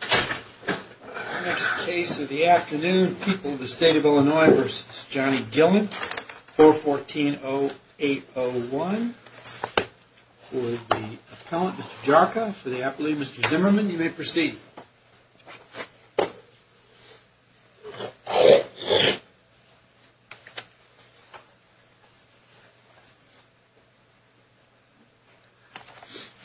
The next case of the afternoon, People of the State of Illinois v. Johnny Gillon, 414-0801 for the appellant, Mr. Jarka, for the appellate, Mr. Zimmerman. You may proceed. Brad Jarka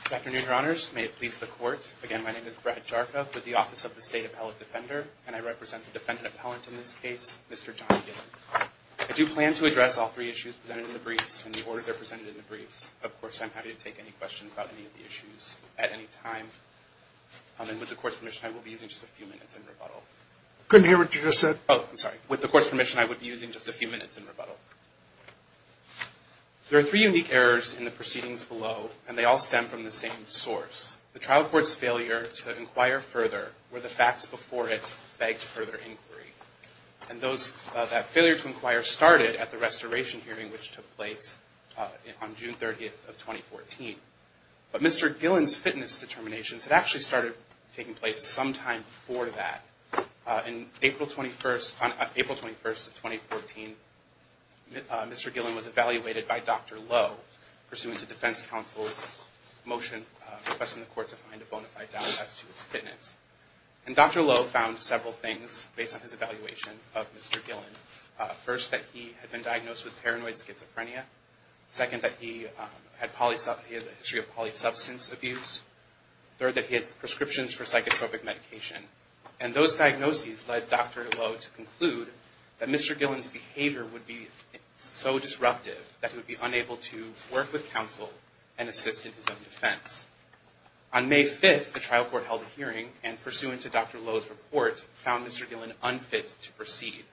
Good afternoon, Your Honors. May it please the Court. Again, my name is Brad Jarka with the Office of the State Appellate Defender, and I represent the defendant appellant in this case, Mr. Johnny Gillon. I do plan to address all three issues presented in the briefs in the order they're presented in the briefs. Of course, I'm happy to take any questions about any of the issues at any time. And with the Court's permission, I will be using just a few minutes in rebuttal. There are three unique errors in the proceedings below, and they all stem from the same source. The trial court's failure to inquire further, where the facts before it begged further inquiry. And that failure to inquire started at the restoration hearing, which took place on June 30th of 2014. But Mr. Gillon's fitness determinations had actually started taking place sometime before that. On April 21st of 2014, Mr. Gillon was evaluated by Dr. Lowe, pursuant to defense counsel's motion requesting the Court to find a bona fide doubt as to his fitness. And Dr. Lowe found several things based on his evaluation of Mr. Gillon. First, that he had been diagnosed with paranoid schizophrenia. Second, that he had a history of polysubstance abuse. Third, that he had prescriptions for psychotropic medication. And those diagnoses led Dr. Lowe to conclude that Mr. Gillon's behavior would be so disruptive that he would be unable to work with counsel and assist in his own defense. On May 5th, the trial court held a hearing and, pursuant to Dr. Lowe's report, found Mr. Gillon unfit to proceed.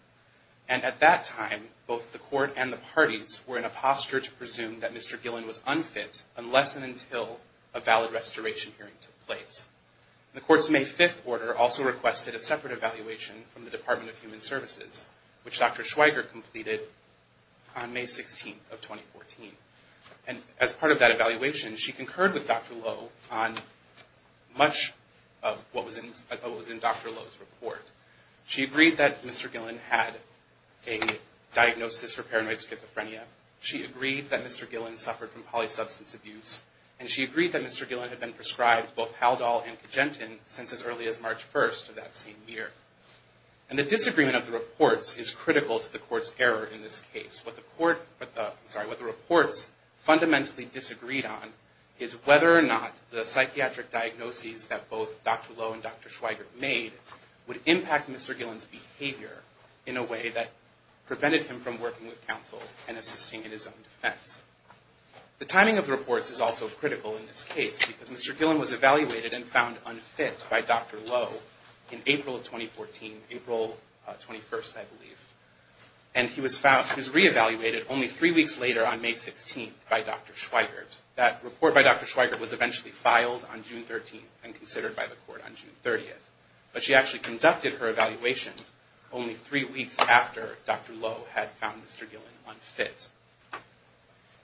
And at that time, both the Court and the parties were in a posture to presume that Mr. Gillon was unfit unless and until a valid restoration hearing took place. The Court's May 5th order also requested a separate evaluation from the Department of Human Services, which Dr. Schweiger completed on May 16th of 2014. And as part of that evaluation, she concurred with Dr. Lowe on much of what was in Dr. Lowe's report. She agreed that Mr. Gillon had a diagnosis for paranoid schizophrenia. She agreed that Mr. Gillon suffered from polysubstance abuse. And she agreed that Mr. Gillon had been prescribed both Haldol and Cajentin since as early as March 1st of that same year. And the disagreement of the reports is critical to the Court's error in this case. What the reports fundamentally disagreed on is whether or not the psychiatric diagnoses that both Dr. Lowe and Dr. Schweiger made would impact Mr. Gillon's behavior in a way that prevented him from working with counsel and assisting in his own defense. The timing of the reports is also critical in this case because Mr. Gillon was evaluated and found unfit by Dr. Lowe in April of 2014, April 21st, I believe. And he was re-evaluated only three weeks later on May 16th by Dr. Schweiger. That report by Dr. Schweiger was eventually filed on June 13th and considered by the Court on June 30th. But she actually conducted her evaluation only three weeks after Dr. Lowe had found Mr. Gillon unfit.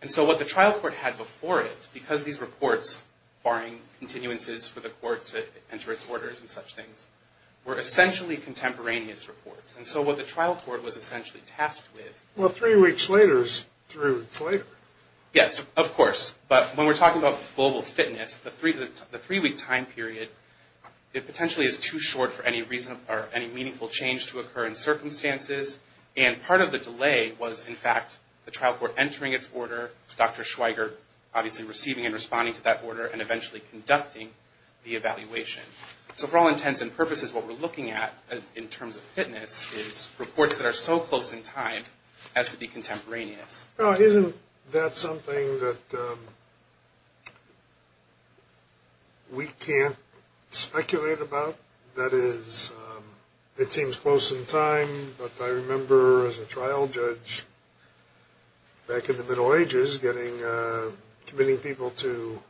And so what the trial court had before it, because these reports, barring continuances for the Court to enter its orders and such things, were essentially contemporaneous reports. And so what the trial court was essentially tasked with... Well, three weeks later is three weeks later. Yes, of course. But when we're talking about global fitness, the three-week time period, it potentially is too short for any reason or any meaningful change to occur in circumstances. And part of the delay was, in fact, the trial court entering its order, Dr. Schweiger obviously receiving and responding to that order, and eventually conducting the evaluation. So for all intents and purposes, what we're looking at in terms of fitness is reports that are so close in time as to be contemporaneous. Now, isn't that something that we can't speculate about? That is, it seems close in time, but I remember as a trial judge back in the Middle Ages committing people to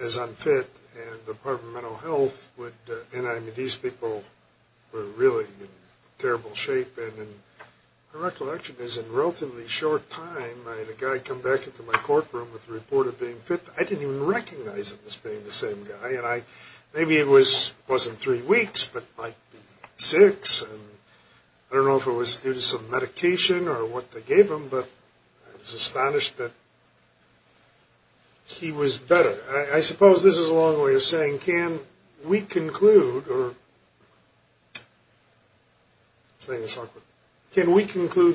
as unfit, and the Department of Mental Health would, and these people were really in terrible shape. And my recollection is, in relatively short time, I had a guy come back into my courtroom with a report of being fit. I didn't even recognize him as being the same guy. And maybe it wasn't three weeks, but might be six. And I don't know if it was due to some medication or what they gave him, but I was astonished that he was better. I suppose this is a long way of saying, can we conclude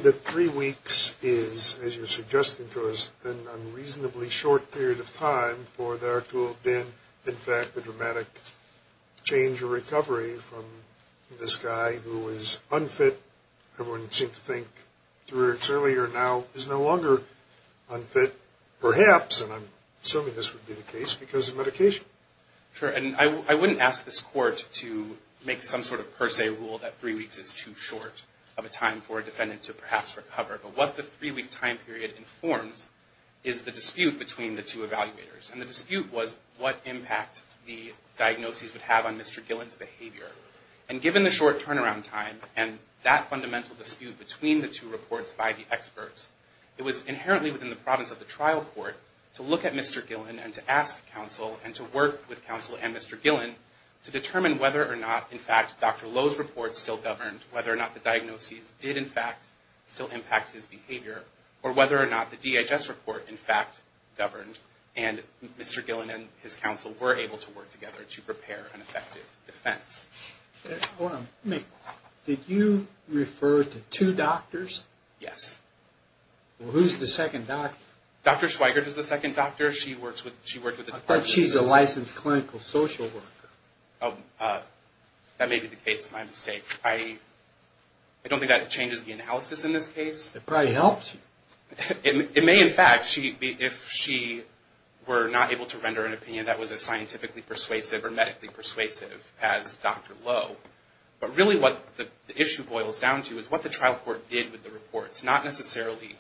that three weeks is, as you're suggesting to us, an unreasonably short period of time for there to have been, in fact, a dramatic change or recovery from this guy who was unfit. Everyone seemed to think three weeks earlier now is no longer unfit, perhaps, and I'm assuming this would be the case, because of medication. Sure. And I wouldn't ask this court to make some sort of per se rule that three weeks is too short of a time for a defendant to perhaps recover. But what the three-week time period informs is the dispute between the two evaluators. And the dispute was what impact the diagnoses would have on Mr. Gillen's behavior. And given the short turnaround time and that fundamental dispute between the two reports by the experts, it was inherently within the province of the trial court to look at Mr. Gillen and to ask counsel and to work with counsel and Mr. Gillen to determine whether or not, in fact, Dr. Lowe's report still governed, whether or not the diagnoses did, in fact, still impact his behavior, or whether or not the DHS report, in fact, governed. And Mr. Gillen and his counsel were able to work together to prepare an effective defense. Hold on. Did you refer to two doctors? Yes. Well, who's the second doctor? Dr. Schweigert is the second doctor. She works with the Department of Justice. I thought she's a licensed clinical social worker. That may be the case. My mistake. I don't think that changes the analysis in this case. It probably helps. It may, in fact, if she were not able to render an opinion that was as scientifically persuasive or medically persuasive as Dr. Lowe. But really what the issue boils down to is what the trial court did with the reports, not necessarily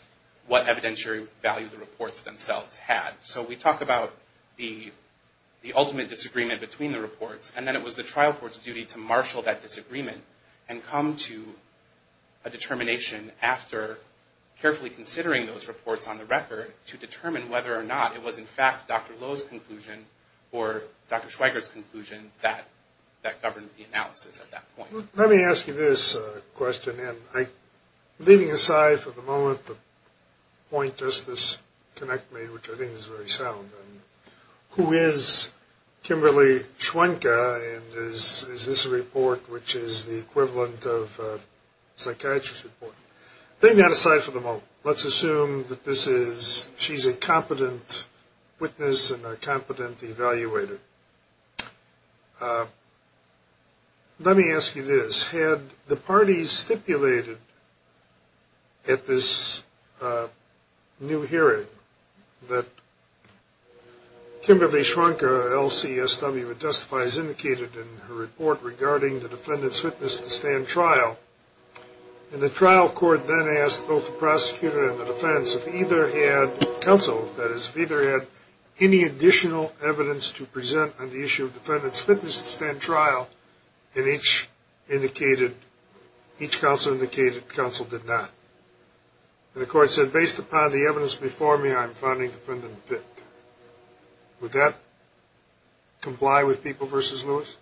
what evidentiary value the reports themselves had. So we talk about the ultimate disagreement between the reports. And then it was the trial court's duty to marshal that disagreement and come to a determination after carefully considering those reports on the record to determine whether or not it was, in fact, Dr. Lowe's conclusion or Dr. Schweigert's conclusion that governed the analysis at that point. Let me ask you this question. And leaving aside for the moment the point does this connect me, which I think is very sound. Who is Kimberly Schwenke? And is this a report which is the equivalent of a psychiatrist report? Leaving that aside for the moment, let's assume that she's a competent witness and a competent evaluator. Let me ask you this. Had the parties stipulated at this new hearing that Kimberly Schwenke, LCSW, would justify as indicated in her report regarding the defendant's witness to stand trial, and the trial court then asked both the prosecutor and the defense if either had counsel, that is, if either had any additional evidence to present on the issue of defendant's witness to stand trial, and each counsel indicated counsel did not. And the court said, based upon the evidence before me, I'm finding defendant fit. Would that comply with People v. Lewis?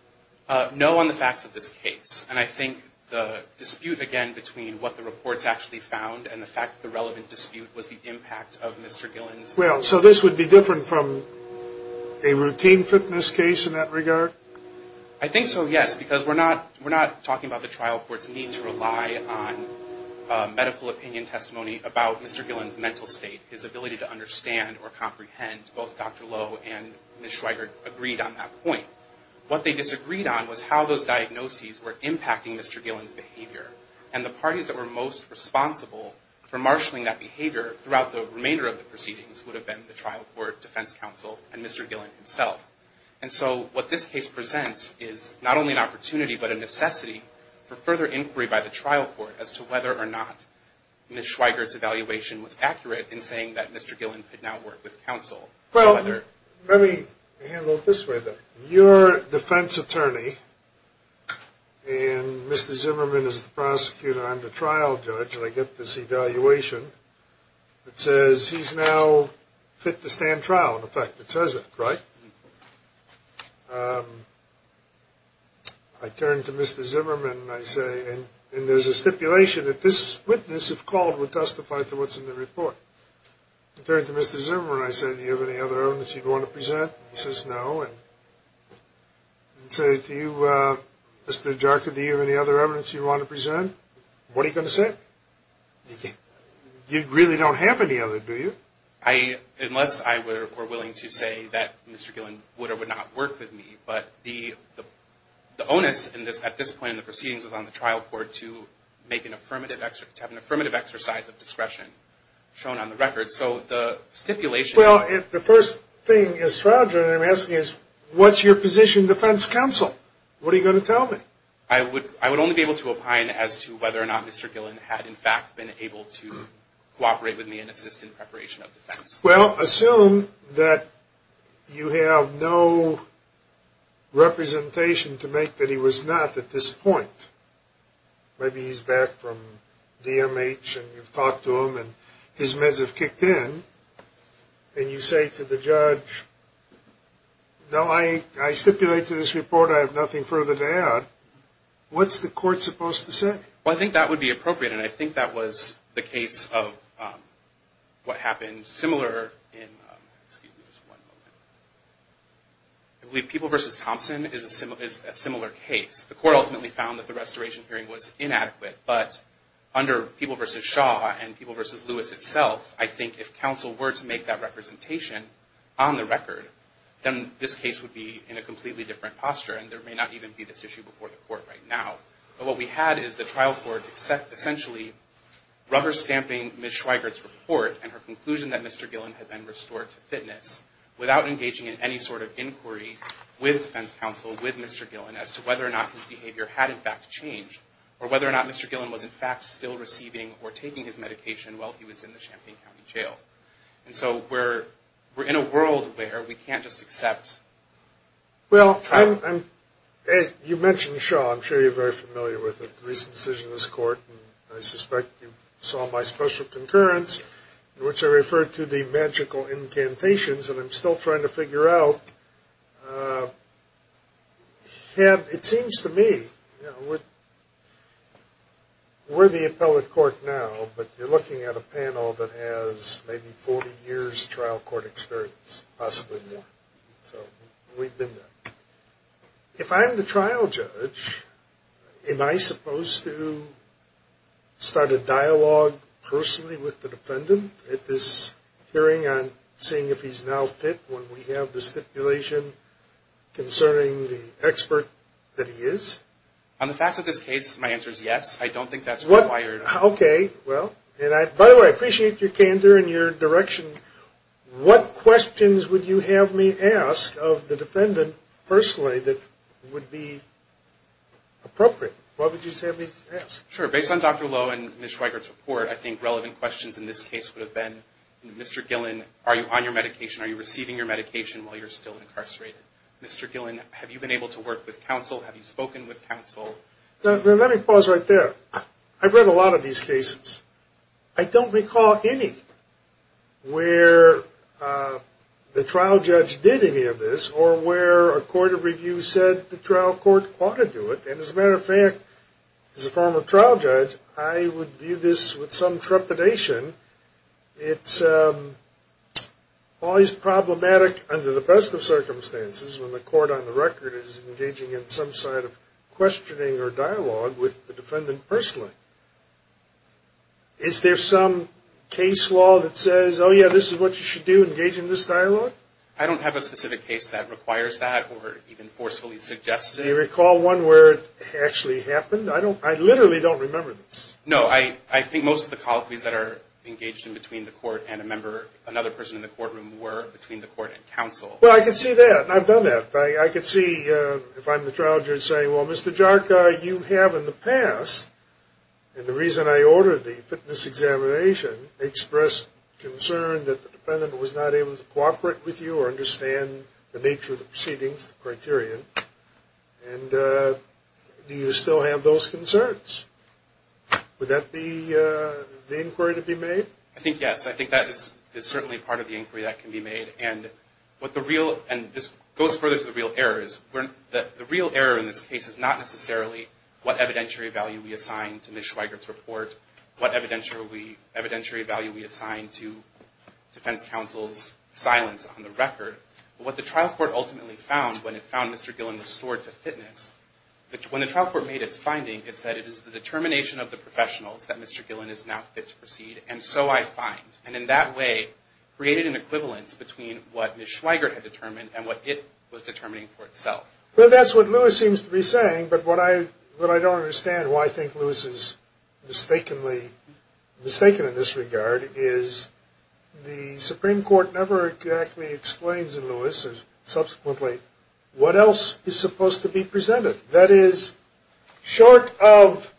No on the facts of this case. And I think the dispute, again, between what the reports actually found and the fact that the relevant dispute was the impact of Mr. Gillen's Well, so this would be different from a routine fitness case in that regard? I think so, yes, because we're not talking about the trial court's need to rely on medical opinion testimony about Mr. Gillen's mental state, his ability to understand or comprehend. Both Dr. Lowe and Ms. Schweiger agreed on that point. What they disagreed on was how those diagnoses were impacting Mr. Gillen's behavior, and the parties that were most responsible for marshaling that behavior throughout the remainder of the proceedings would have been the trial court, defense counsel, and Mr. Gillen himself. And so what this case presents is not only an opportunity but a necessity for further inquiry by the trial court as to whether or not Ms. Schweiger's evaluation was accurate in saying that Mr. Gillen could now work with counsel. Well, let me handle it this way, then. Your defense attorney, and Mr. Zimmerman is the prosecutor, I'm the trial judge, and I get this evaluation that says he's now fit to stand trial. In effect, it says it, right? I turn to Mr. Zimmerman and I say, and there's a stipulation that this witness, if called, would testify to what's in the report. I turn to Mr. Zimmerman and I say, do you have any other evidence you'd want to present? He says no, and I say to you, Mr. Jarkin, do you have any other evidence you'd want to present? What are you going to say? You really don't have any other, do you? Unless I were willing to say that Mr. Gillen would or would not work with me, but the onus at this point in the proceedings was on the Well, the first thing as trial judge I'm asking is, what's your position defense counsel? What are you going to tell me? I would only be able to opine as to whether or not Mr. Gillen had, in fact, been able to cooperate with me and assist in preparation of defense. Well, assume that you have no representation to make that he was not at this point. Maybe he's back from DMH and you've talked to him and his meds have kicked in. And you say to the judge, no, I stipulate to this report I have nothing further to add. What's the court supposed to say? Well, I think that would be appropriate, and I think that was the case of what happened similar in, excuse me, just one moment. I believe People v. Thompson is a similar case. The court ultimately found that the restoration hearing was inadequate, but under People v. Shaw and People v. Lewis itself, I think if counsel were to make that representation on the record, then this case would be in a completely different posture, and there may not even be this issue before the court right now. But what we had is the trial court essentially rubber-stamping Ms. Schweigert's report and her conclusion that Mr. Gillen had been restored to fitness without engaging in any sort of inquiry with defense counsel, with Mr. Gillen, as to whether or not his behavior had in fact changed, or whether or not Mr. Gillen was in fact still receiving or taking his medication while he was in the Champaign County Jail. And so we're in a world where we can't just accept. Well, you mentioned Shaw. I'm sure you're very familiar with the recent decision of this court, and I suspect you saw my special concurrence, in which I referred to the magical incantations. And I'm still trying to figure out, it seems to me, we're the appellate court now, but you're looking at a panel that has maybe 40 years trial court experience, possibly more. So we've been there. If I'm the trial judge, am I supposed to start a dialogue personally with the defendant at this hearing on seeing if he's now fit when we have the stipulation concerning the expert that he is? On the facts of this case, my answer is yes. I don't think that's required. Okay. By the way, I appreciate your candor and your direction. What questions would you have me ask of the defendant personally that would be appropriate? What would you have me ask? Sure. Based on Dr. Lowe and Ms. Schweigert's report, I think relevant questions in this case would have been, Mr. Gillen, are you on your medication? Are you receiving your medication while you're still incarcerated? Mr. Gillen, have you been able to work with counsel? Have you spoken with counsel? Let me pause right there. I've read a lot of these cases. I don't recall any where the trial judge did any of this or where a court of review said the trial court ought to do it. And as a matter of fact, as a former trial judge, I would view this with some trepidation. It's always problematic under the best of circumstances when the court on the record is engaging in some sort of questioning or dialogue with the defendant personally. Is there some case law that says, oh, yeah, this is what you should do, engage in this dialogue? I don't have a specific case that requires that or even forcefully suggests it. Do you recall one where it actually happened? I literally don't remember this. No, I think most of the colloquies that are engaged in between the court and a member, another person in the courtroom, were between the court and counsel. Well, I can see that. I've done that. I can see if I'm the trial judge saying, well, Mr. Jarka, you have in the past, and the reason I ordered the fitness examination, expressed concern that the defendant was not able to cooperate with you or understand the nature of the proceedings, the criterion. And do you still have those concerns? Would that be the inquiry to be made? I think yes. I think that is certainly part of the inquiry that can be made. And this goes further to the real errors. The real error in this case is not necessarily what evidentiary value we assign to Ms. Schweigert's report, what evidentiary value we assign to defense counsel's silence on the record. What the trial court ultimately found when it found Mr. Gillen restored to fitness, when the trial court made its finding, it said it is the determination of the professionals that Mr. Gillen is now fit to proceed, and so I find. And in that way, created an equivalence between what Ms. Schweigert had determined and what it was determining for itself. Well, that's what Lewis seems to be saying, but what I don't understand why I think Lewis is mistaken in this regard, is the Supreme Court never exactly explains in Lewis, or subsequently, what else is supposed to be presented. That is, short of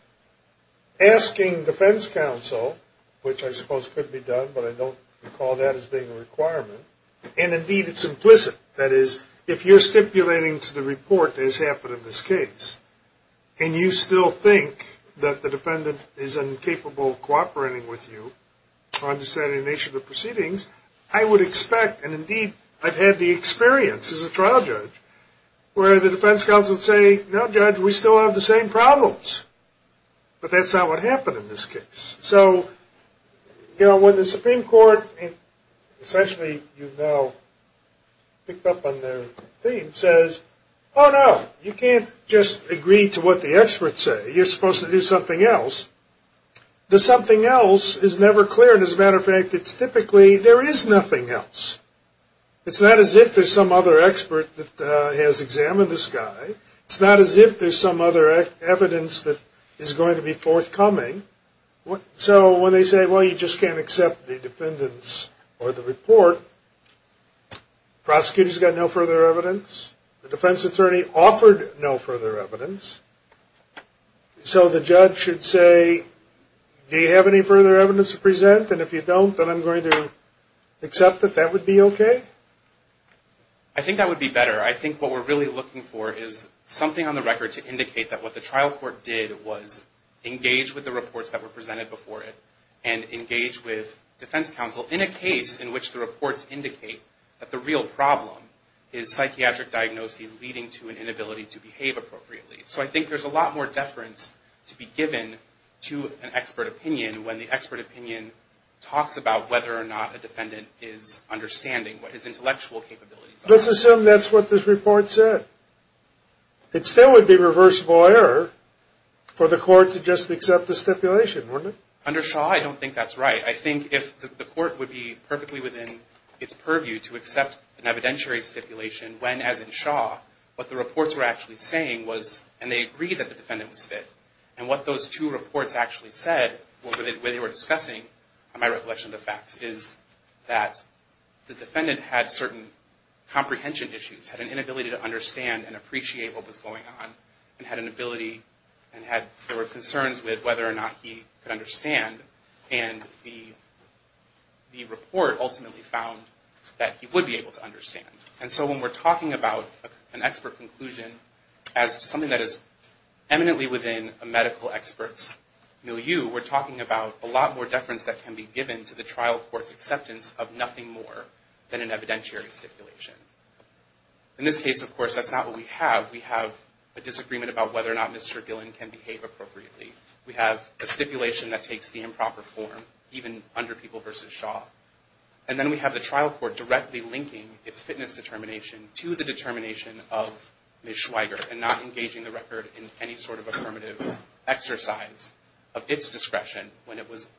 asking defense counsel, which I suppose could be done, but I don't recall that as being a requirement, and indeed, it's implicit. That is, if you're stipulating to the report, as happened in this case, and you still think that the defendant is incapable of cooperating with you on deciding the nature of the proceedings, I would expect, and indeed, I've had the experience as a trial judge, where the defense counsel would say, no, judge, we still have the same problems, but that's not what happened in this case. So, you know, when the Supreme Court essentially, you know, picked up on their theme, says, oh, no, you can't just agree to what the experts say. You're supposed to do something else. The something else is never clear, and as a matter of fact, it's typically there is nothing else. It's not as if there's some other expert that has examined this guy. It's not as if there's some other evidence that is going to be forthcoming. So when they say, well, you just can't accept the defendants or the report, the prosecutor's got no further evidence. The defense attorney offered no further evidence. So the judge should say, do you have any further evidence to present? And if you don't, then I'm going to accept that that would be okay? I think that would be better. I think what we're really looking for is something on the record to indicate that what the trial court did was engage with the reports that were presented before it and engage with defense counsel in a case in which the reports indicate that the real problem is psychiatric diagnoses leading to an inability to behave appropriately. So I think there's a lot more deference to be given to an expert opinion when the court talks about whether or not a defendant is understanding what his intellectual capabilities are. Let's assume that's what this report said. It still would be reversible error for the court to just accept the stipulation, wouldn't it? Under Shaw, I don't think that's right. I think if the court would be perfectly within its purview to accept an evidentiary stipulation when, as in Shaw, what the reports were actually saying was, and they agreed that the defendant was fit, and what those two reports actually said when they were discussing, on my recollection of the facts, is that the defendant had certain comprehension issues, had an inability to understand and appreciate what was going on, and had an ability and had, there were concerns with whether or not he could understand, and the report ultimately found that he would be able to understand. And so when we're talking about an expert conclusion as something that is eminently within a medical expert's milieu, we're talking about a lot more deference that can be given to the trial court's acceptance of nothing more than an evidentiary stipulation. In this case, of course, that's not what we have. We have a disagreement about whether or not Mr. Gillen can behave appropriately. We have a stipulation that takes the improper form, even under People v. Shaw. And then we have the trial court directly linking its fitness determination to the determination of Ms. Schweiger and not engaging the record in any sort of affirmative exercise of its discretion when it was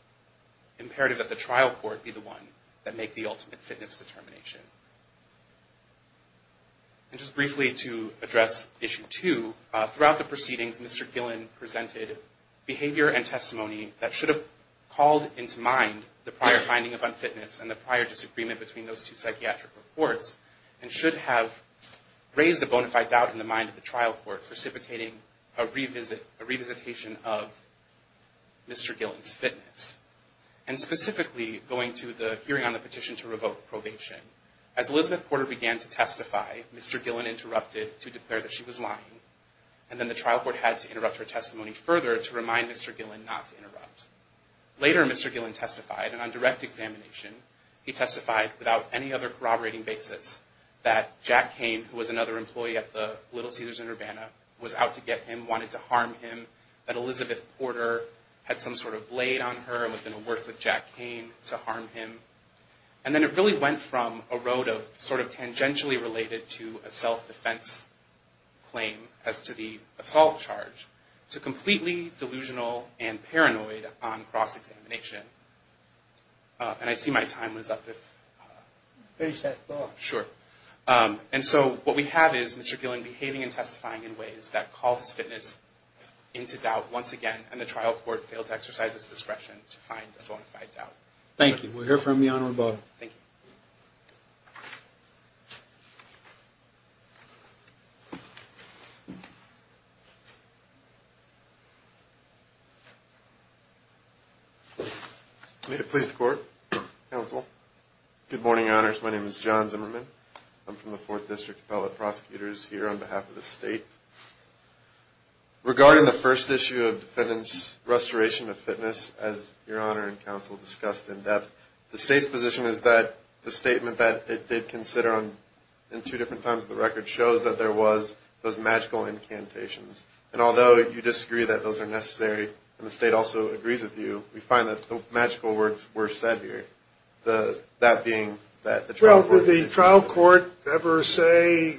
imperative that the trial court be the one that make the ultimate fitness determination. And just briefly to address Issue 2, throughout the proceedings Mr. Gillen presented behavior and testimony that should have called into mind the prior finding of unfitness and the prior disagreement between those two psychiatric reports, and should have raised a bona fide doubt in the mind of the trial court precipitating a revisitation of Mr. Gillen's fitness. And specifically, going to the hearing on the petition to revoke probation, as Elizabeth Porter began to testify, Mr. Gillen interrupted to declare that she was lying, and then the trial court had to interrupt her testimony further to remind Mr. Gillen not to interrupt. Later, Mr. Gillen testified, and on direct examination, he testified without any other corroborating basis that Jack Kane, who was another employee at the Little Caesars in Urbana, was out to get him, wanted to harm him, that Elizabeth Porter had some sort of blade on her and was going to work with Jack Kane to harm him. And then it really went from a road of sort of tangentially related to a self-defense claim as to the assault charge, to completely delusional and paranoid on cross-examination. And I see my time was up. Finish that thought. Sure. And so what we have is Mr. Gillen behaving and testifying in ways that call his fitness into doubt once again, and the trial court failed to exercise its discretion to find a bona fide doubt. Thank you. We'll hear from the Honorable. Thank you. May it please the Court, Counsel. Good morning, Your Honors. My name is John Zimmerman. I'm from the Fourth District, fellow prosecutors here on behalf of the State. Regarding the first issue of defendant's restoration of fitness, as Your Honor and Counsel discussed in depth, the State's position is that the statement that it did consider in two different times of the record shows that there was those magical incantations. And although you disagree that those are necessary, and the State also agrees with you, we find that the magical words were said here, that being that the trial court. Well, did the trial court ever say,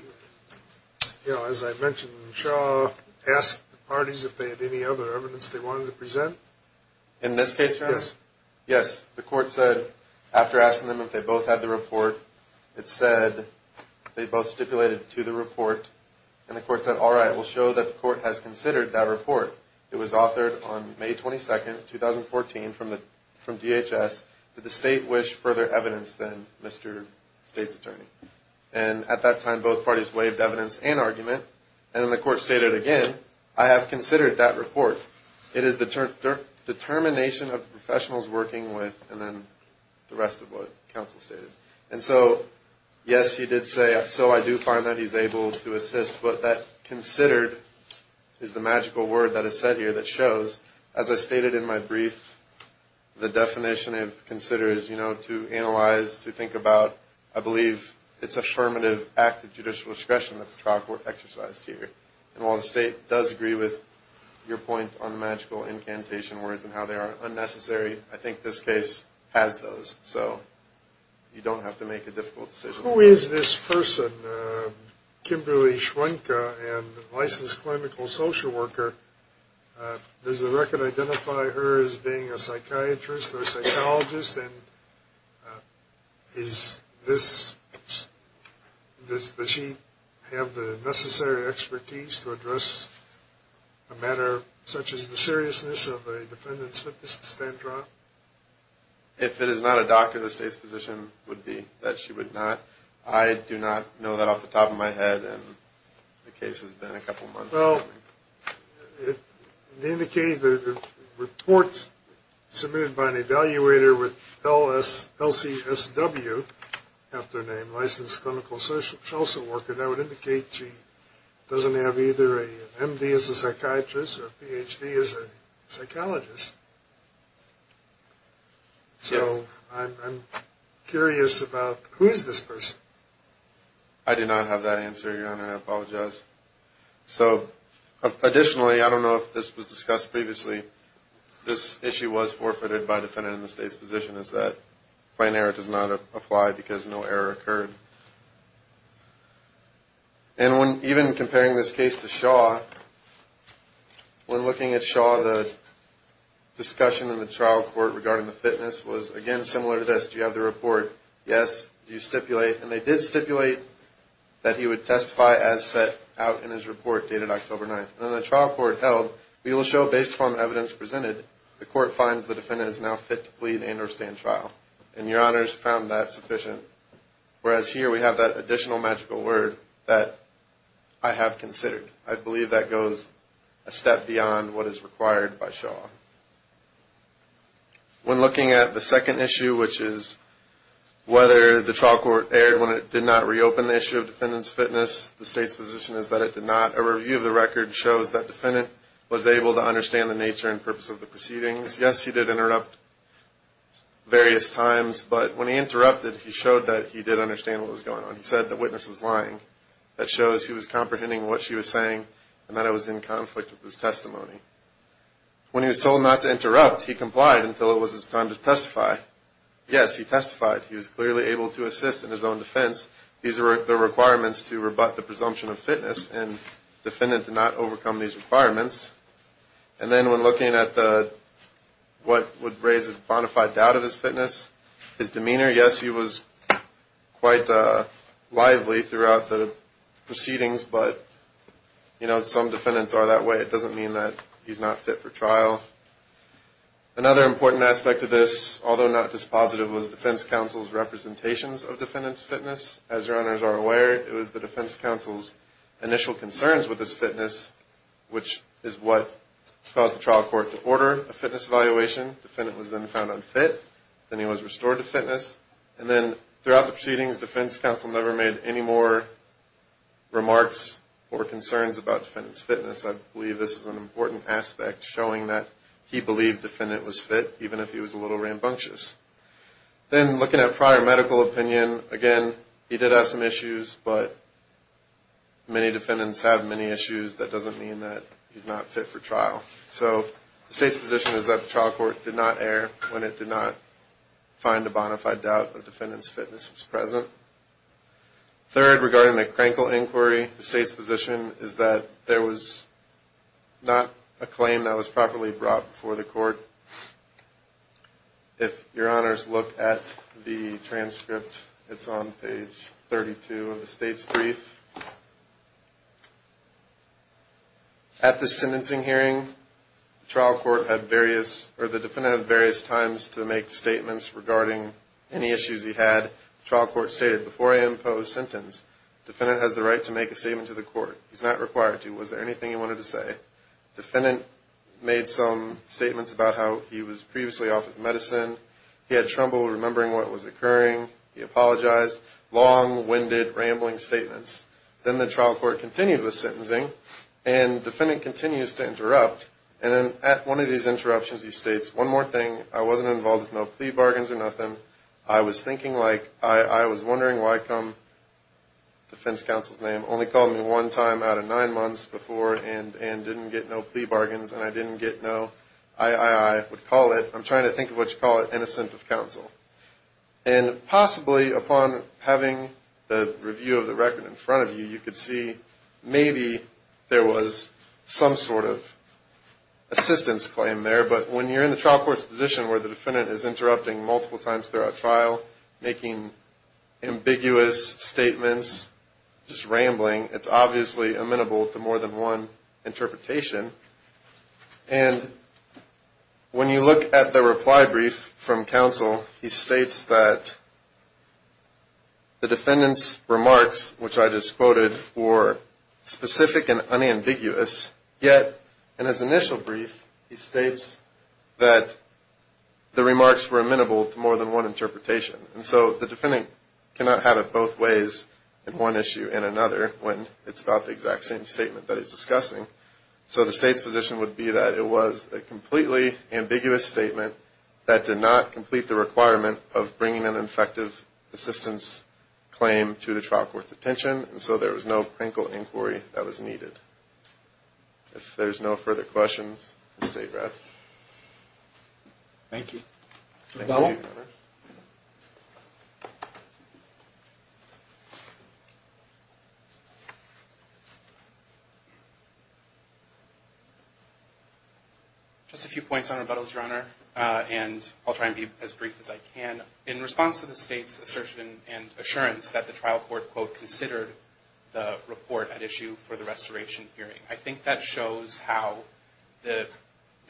you know, as I mentioned Shaw asked the parties if they had any other evidence they wanted to present? In this case, Your Honor? Yes. Yes. The court said after asking them if they both had the report, it said they both stipulated to the report. And the court said, all right, we'll show that the court has considered that report. It was authored on May 22nd, 2014 from DHS. Did the State wish further evidence than Mr. State's attorney? And at that time, both parties waived evidence and argument. And then the court stated again, I have considered that report. It is the determination of the professionals working with, and then the rest of what Counsel stated. And so, yes, he did say, so I do find that he's able to assist, but that considered is the magical word that is said here that shows, as I stated in my brief, the definition of consider is, you know, to analyze, to think about, I believe, it's affirmative act of judicial discretion that the trial court exercised here. And while the State does agree with your point on magical incantation words and how they are unnecessary, I think this case has those. So you don't have to make a difficult decision. Who is this person, Kimberly Schwenka, a licensed clinical social worker? Does the record identify her as being a psychiatrist or a psychologist? And does she have the necessary expertise to address a matter such as the seriousness of a defendant's fitness to stand trial? If it is not a doctor, the State's position would be that she would not. I do not know that off the top of my head, and the case has been a couple of months. Well, the reports submitted by an evaluator with LCSW, after name, licensed clinical social worker, that would indicate she doesn't have either an MD as a psychiatrist or a PhD as a psychologist. So I'm curious about who is this person? I do not have that answer, Your Honor. I apologize. So additionally, I don't know if this was discussed previously, this issue was forfeited by a defendant in the State's position is that plain error does not apply because no error occurred. And even comparing this case to Shaw, when looking at Shaw, the discussion in the trial court regarding the fitness was, again, similar to this. Do you have the report? Yes. Do you stipulate? And they did stipulate that he would testify as set out in his report dated October 9th. And then the trial court held, we will show, based upon the evidence presented, the court finds the defendant is now fit to plead and or stand trial. And Your Honors found that sufficient. Whereas here we have that additional magical word that I have considered. I believe that goes a step beyond what is required by Shaw. When looking at the second issue, which is whether the trial court erred when it did not reopen the issue of defendant's fitness, the State's position is that it did not. A review of the record shows that defendant was able to understand the nature and purpose of the proceedings. Yes, he did interrupt various times. But when he interrupted, he showed that he did understand what was going on. He said the witness was lying. That shows he was comprehending what she was saying and that it was in conflict with his testimony. When he was told not to interrupt, he complied until it was his time to testify. Yes, he testified. He was clearly able to assist in his own defense. These are the requirements to rebut the presumption of fitness, and defendant did not overcome these requirements. And then when looking at what would raise a bona fide doubt of his fitness, his demeanor, yes, he was quite lively throughout the proceedings, but some defendants are that way. It doesn't mean that he's not fit for trial. Another important aspect of this, although not dispositive, was defense counsel's representations of defendant's fitness. As your honors are aware, it was the defense counsel's initial concerns with his fitness, which is what caused the trial court to order a fitness evaluation. Defendant was then found unfit. Then he was restored to fitness. And then throughout the proceedings, defense counsel never made any more remarks or concerns about defendant's fitness. I believe this is an important aspect, showing that he believed defendant was fit, even if he was a little rambunctious. Then looking at prior medical opinion, again, he did have some issues, but many defendants have many issues. That doesn't mean that he's not fit for trial. So the state's position is that the trial court did not err when it did not find a bona fide doubt that defendant's fitness was present. Third, regarding the Crankle inquiry, the state's position is that there was not a claim that was properly brought before the court. If your honors look at the transcript, it's on page 32 of the state's brief. At the sentencing hearing, the defendant had various times to make statements regarding any issues he had. The trial court stated, before I impose sentence, defendant has the right to make a statement to the court. He's not required to. Was there anything he wanted to say? Defendant made some statements about how he was previously off his medicine. He had trouble remembering what was occurring. He apologized. Long, winded, rambling statements. Then the trial court continued with sentencing, and defendant continues to interrupt. And then at one of these interruptions, he states, one more thing, I wasn't involved with no plea bargains or nothing. I was thinking like, I was wondering why come defense counsel's name only called me one time out of nine months before, and didn't get no plea bargains, and I didn't get no, I would call it, I'm trying to think of what you call it, innocent of counsel. And possibly upon having the review of the record in front of you, you could see maybe there was some sort of assistance claim there. But when you're in the trial court's position where the defendant is interrupting multiple times throughout trial, making ambiguous statements, just rambling, it's obviously amenable to more than one interpretation. And when you look at the reply brief from counsel, he states that the defendant's remarks, which I just quoted, were specific and unambiguous. Yet in his initial brief, he states that the remarks were amenable to more than one interpretation. And so the defendant cannot have it both ways in one issue and another when it's about the exact same statement that he's discussing. So the state's position would be that it was a completely ambiguous statement that did not complete the requirement of bringing an effective assistance claim to the trial court's attention, and so there was no clinical inquiry that was needed. If there's no further questions, the state rests. Thank you. Thank you, Your Honor. Just a few points on rebuttals, Your Honor, and I'll try and be as brief as I can. In response to the state's assertion and assurance that the trial court, quote, considered the report at issue for the restoration hearing, I think that shows how the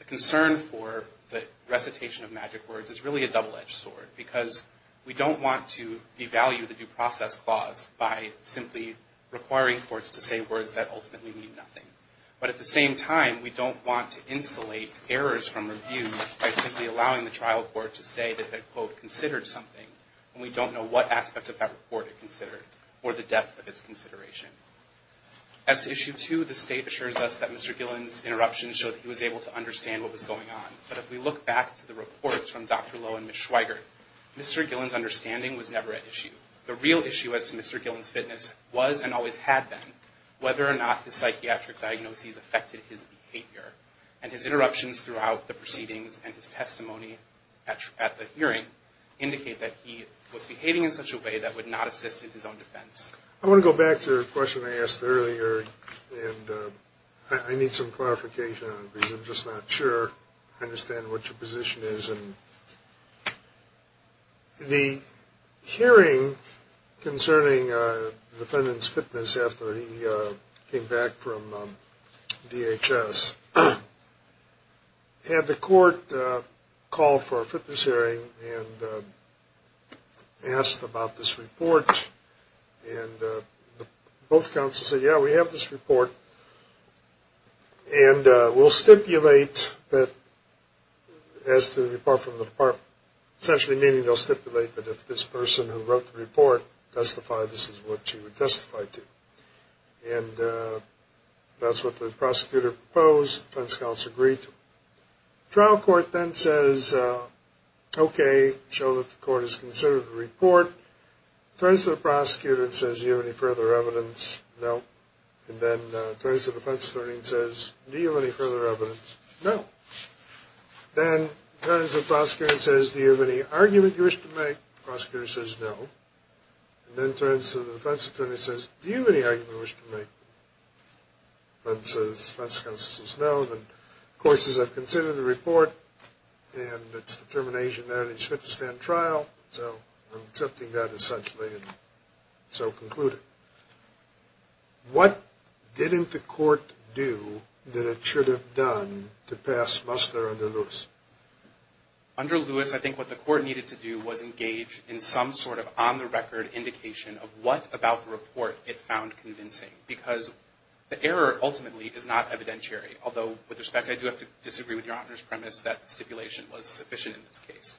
concern for the recitation of magic words is really a double-edged sword, because we don't want to devalue the due process clause by simply requiring courts to say words that ultimately mean nothing. But at the same time, we don't want to insulate errors from review by simply allowing the trial court to say that it, quote, considered something, and we don't know what aspect of that report it considered or the depth of its consideration. As to issue two, the state assures us that Mr. Gillen's interruptions show that he was able to understand what was going on, but if we look back to the reports from Dr. Lowe and Ms. Schweiger, Mr. Gillen's understanding was never at issue. The real issue as to Mr. Gillen's fitness was and always had been whether or not the psychiatric diagnoses affected his behavior, and his interruptions throughout the proceedings and his testimony at the hearing indicate that he was behaving in such a way that would not assist in his own defense. I want to go back to a question I asked earlier, and I need some clarification on it because I'm just not sure I understand what your position is. The hearing concerning the defendant's fitness after he came back from DHS had the court call for a fitness hearing and asked about this report, and both counsels said, yeah, we have this report, and we'll stipulate that as to the report from the department, essentially meaning they'll stipulate that if this person who wrote the report testified, this is what you would testify to. And that's what the prosecutor proposed. The defense counsel agreed to it. The trial court then says, okay, show that the court has considered the report. Turns to the prosecutor and says, do you have any further evidence? No. And then turns to the defense attorney and says, do you have any further evidence? No. Then turns to the prosecutor and says, do you have any argument you wish to make? The prosecutor says no. And then turns to the defense attorney and says, do you have any argument you wish to make? The defense counsel says no. Then, of course, as I've considered the report and its determination there that it's fit to stand trial, so I'm accepting that essentially and so conclude it. What didn't the court do that it should have done to pass Musner under Lewis? Under Lewis, I think what the court needed to do was engage in some sort of on-the-record indication of what about the report it found convincing because the error ultimately is not evidentiary. Although, with respect, I do have to disagree with Your Honor's premise that stipulation was sufficient in this case.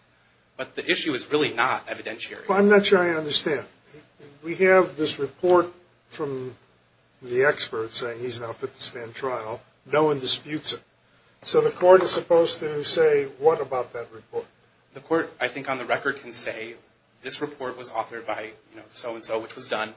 But the issue is really not evidentiary. Well, I'm not sure I understand. We have this report from the expert saying he's not fit to stand trial. No one disputes it. So the court is supposed to say what about that report? The court, I think, on the record can say this report was authored by so-and-so, which was done,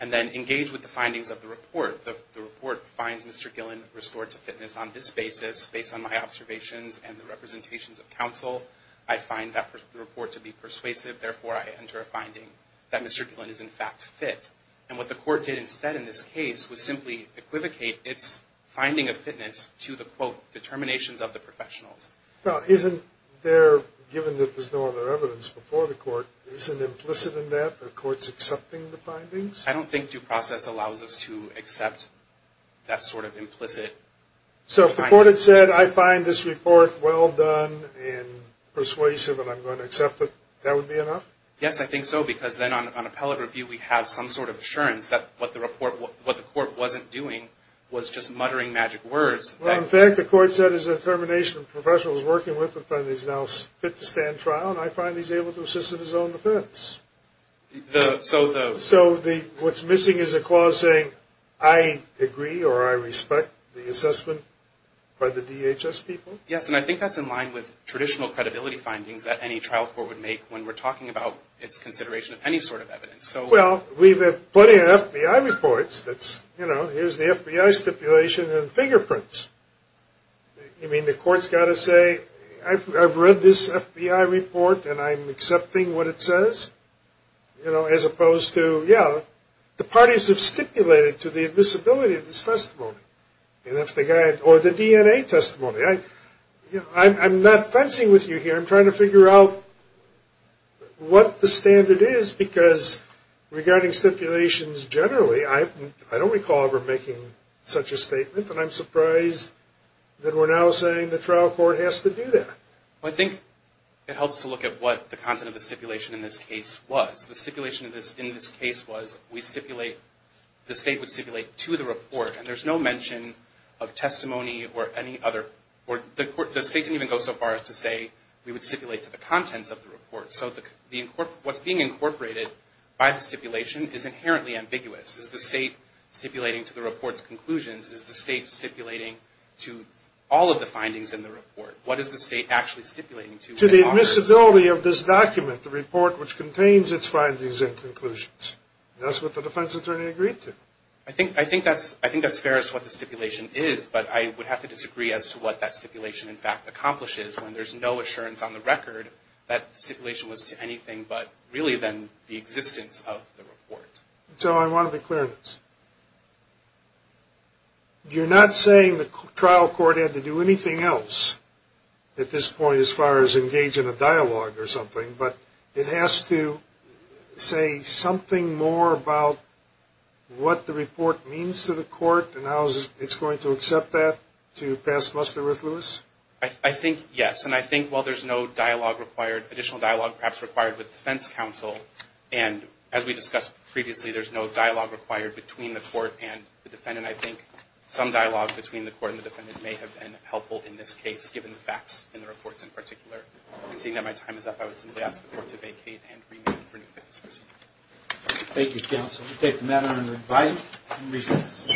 and then engage with the findings of the report. The report finds Mr. Gillen restored to fitness on this basis, based on my observations and the representations of counsel. I find that report to be persuasive. Therefore, I enter a finding that Mr. Gillen is, in fact, fit. And what the court did instead in this case was simply equivocate its finding of fitness to the, quote, determinations of the professionals. Well, isn't there, given that there's no other evidence before the court, isn't implicit in that the court's accepting the findings? I don't think due process allows us to accept that sort of implicit finding. So if the court had said I find this report well done and persuasive and I'm going to accept it, that would be enough? Yes, I think so, because then on appellate review, we have some sort of assurance that what the court wasn't doing was just muttering magic words. Well, in fact, the court said his determination of professionals working with the defendant is now fit to stand trial, and I find he's able to assist in his own defense. So what's missing is a clause saying I agree or I respect the assessment by the DHS people? Yes, and I think that's in line with traditional credibility findings that any trial court would make when we're talking about its consideration of any sort of evidence. Well, we've had plenty of FBI reports that's, you know, here's the FBI stipulation and fingerprints. You mean the court's got to say I've read this FBI report and I'm accepting what it says? You know, as opposed to, yeah, the parties have stipulated to the admissibility of this testimony or the DNA testimony. I'm not fencing with you here. I'm trying to figure out what the standard is because regarding stipulations generally, I don't recall ever making such a statement, and I'm surprised that we're now saying the trial court has to do that. Well, I think it helps to look at what the content of the stipulation in this case was. The stipulation in this case was we stipulate, the state would stipulate to the report, and there's no mention of testimony or any other. The state didn't even go so far as to say we would stipulate to the contents of the report. So what's being incorporated by the stipulation is inherently ambiguous. Is the state stipulating to the report's conclusions? Is the state stipulating to all of the findings in the report? What is the state actually stipulating to? To the admissibility of this document, the report which contains its findings and conclusions. That's what the defense attorney agreed to. I think that's fair as to what the stipulation is, but I would have to disagree as to what that stipulation in fact accomplishes when there's no assurance on the record that the stipulation was to anything but really then the existence of the report. So I want to be clear on this. You're not saying the trial court had to do anything else at this point as far as engage in a dialogue or something, but it has to say something more about what the report means to the court and how it's going to accept that to pass muster with Lewis? I think yes. And I think while there's no additional dialogue perhaps required with defense counsel, and as we discussed previously, there's no dialogue required between the court and the defendant, I think some dialogue between the court and the defendant may have been helpful in this case given the facts in the reports in particular. And seeing that my time is up, I would simply ask the court to vacate and remit for new fitness proceedings. Thank you, counsel. We'll take the matter under invite and recess.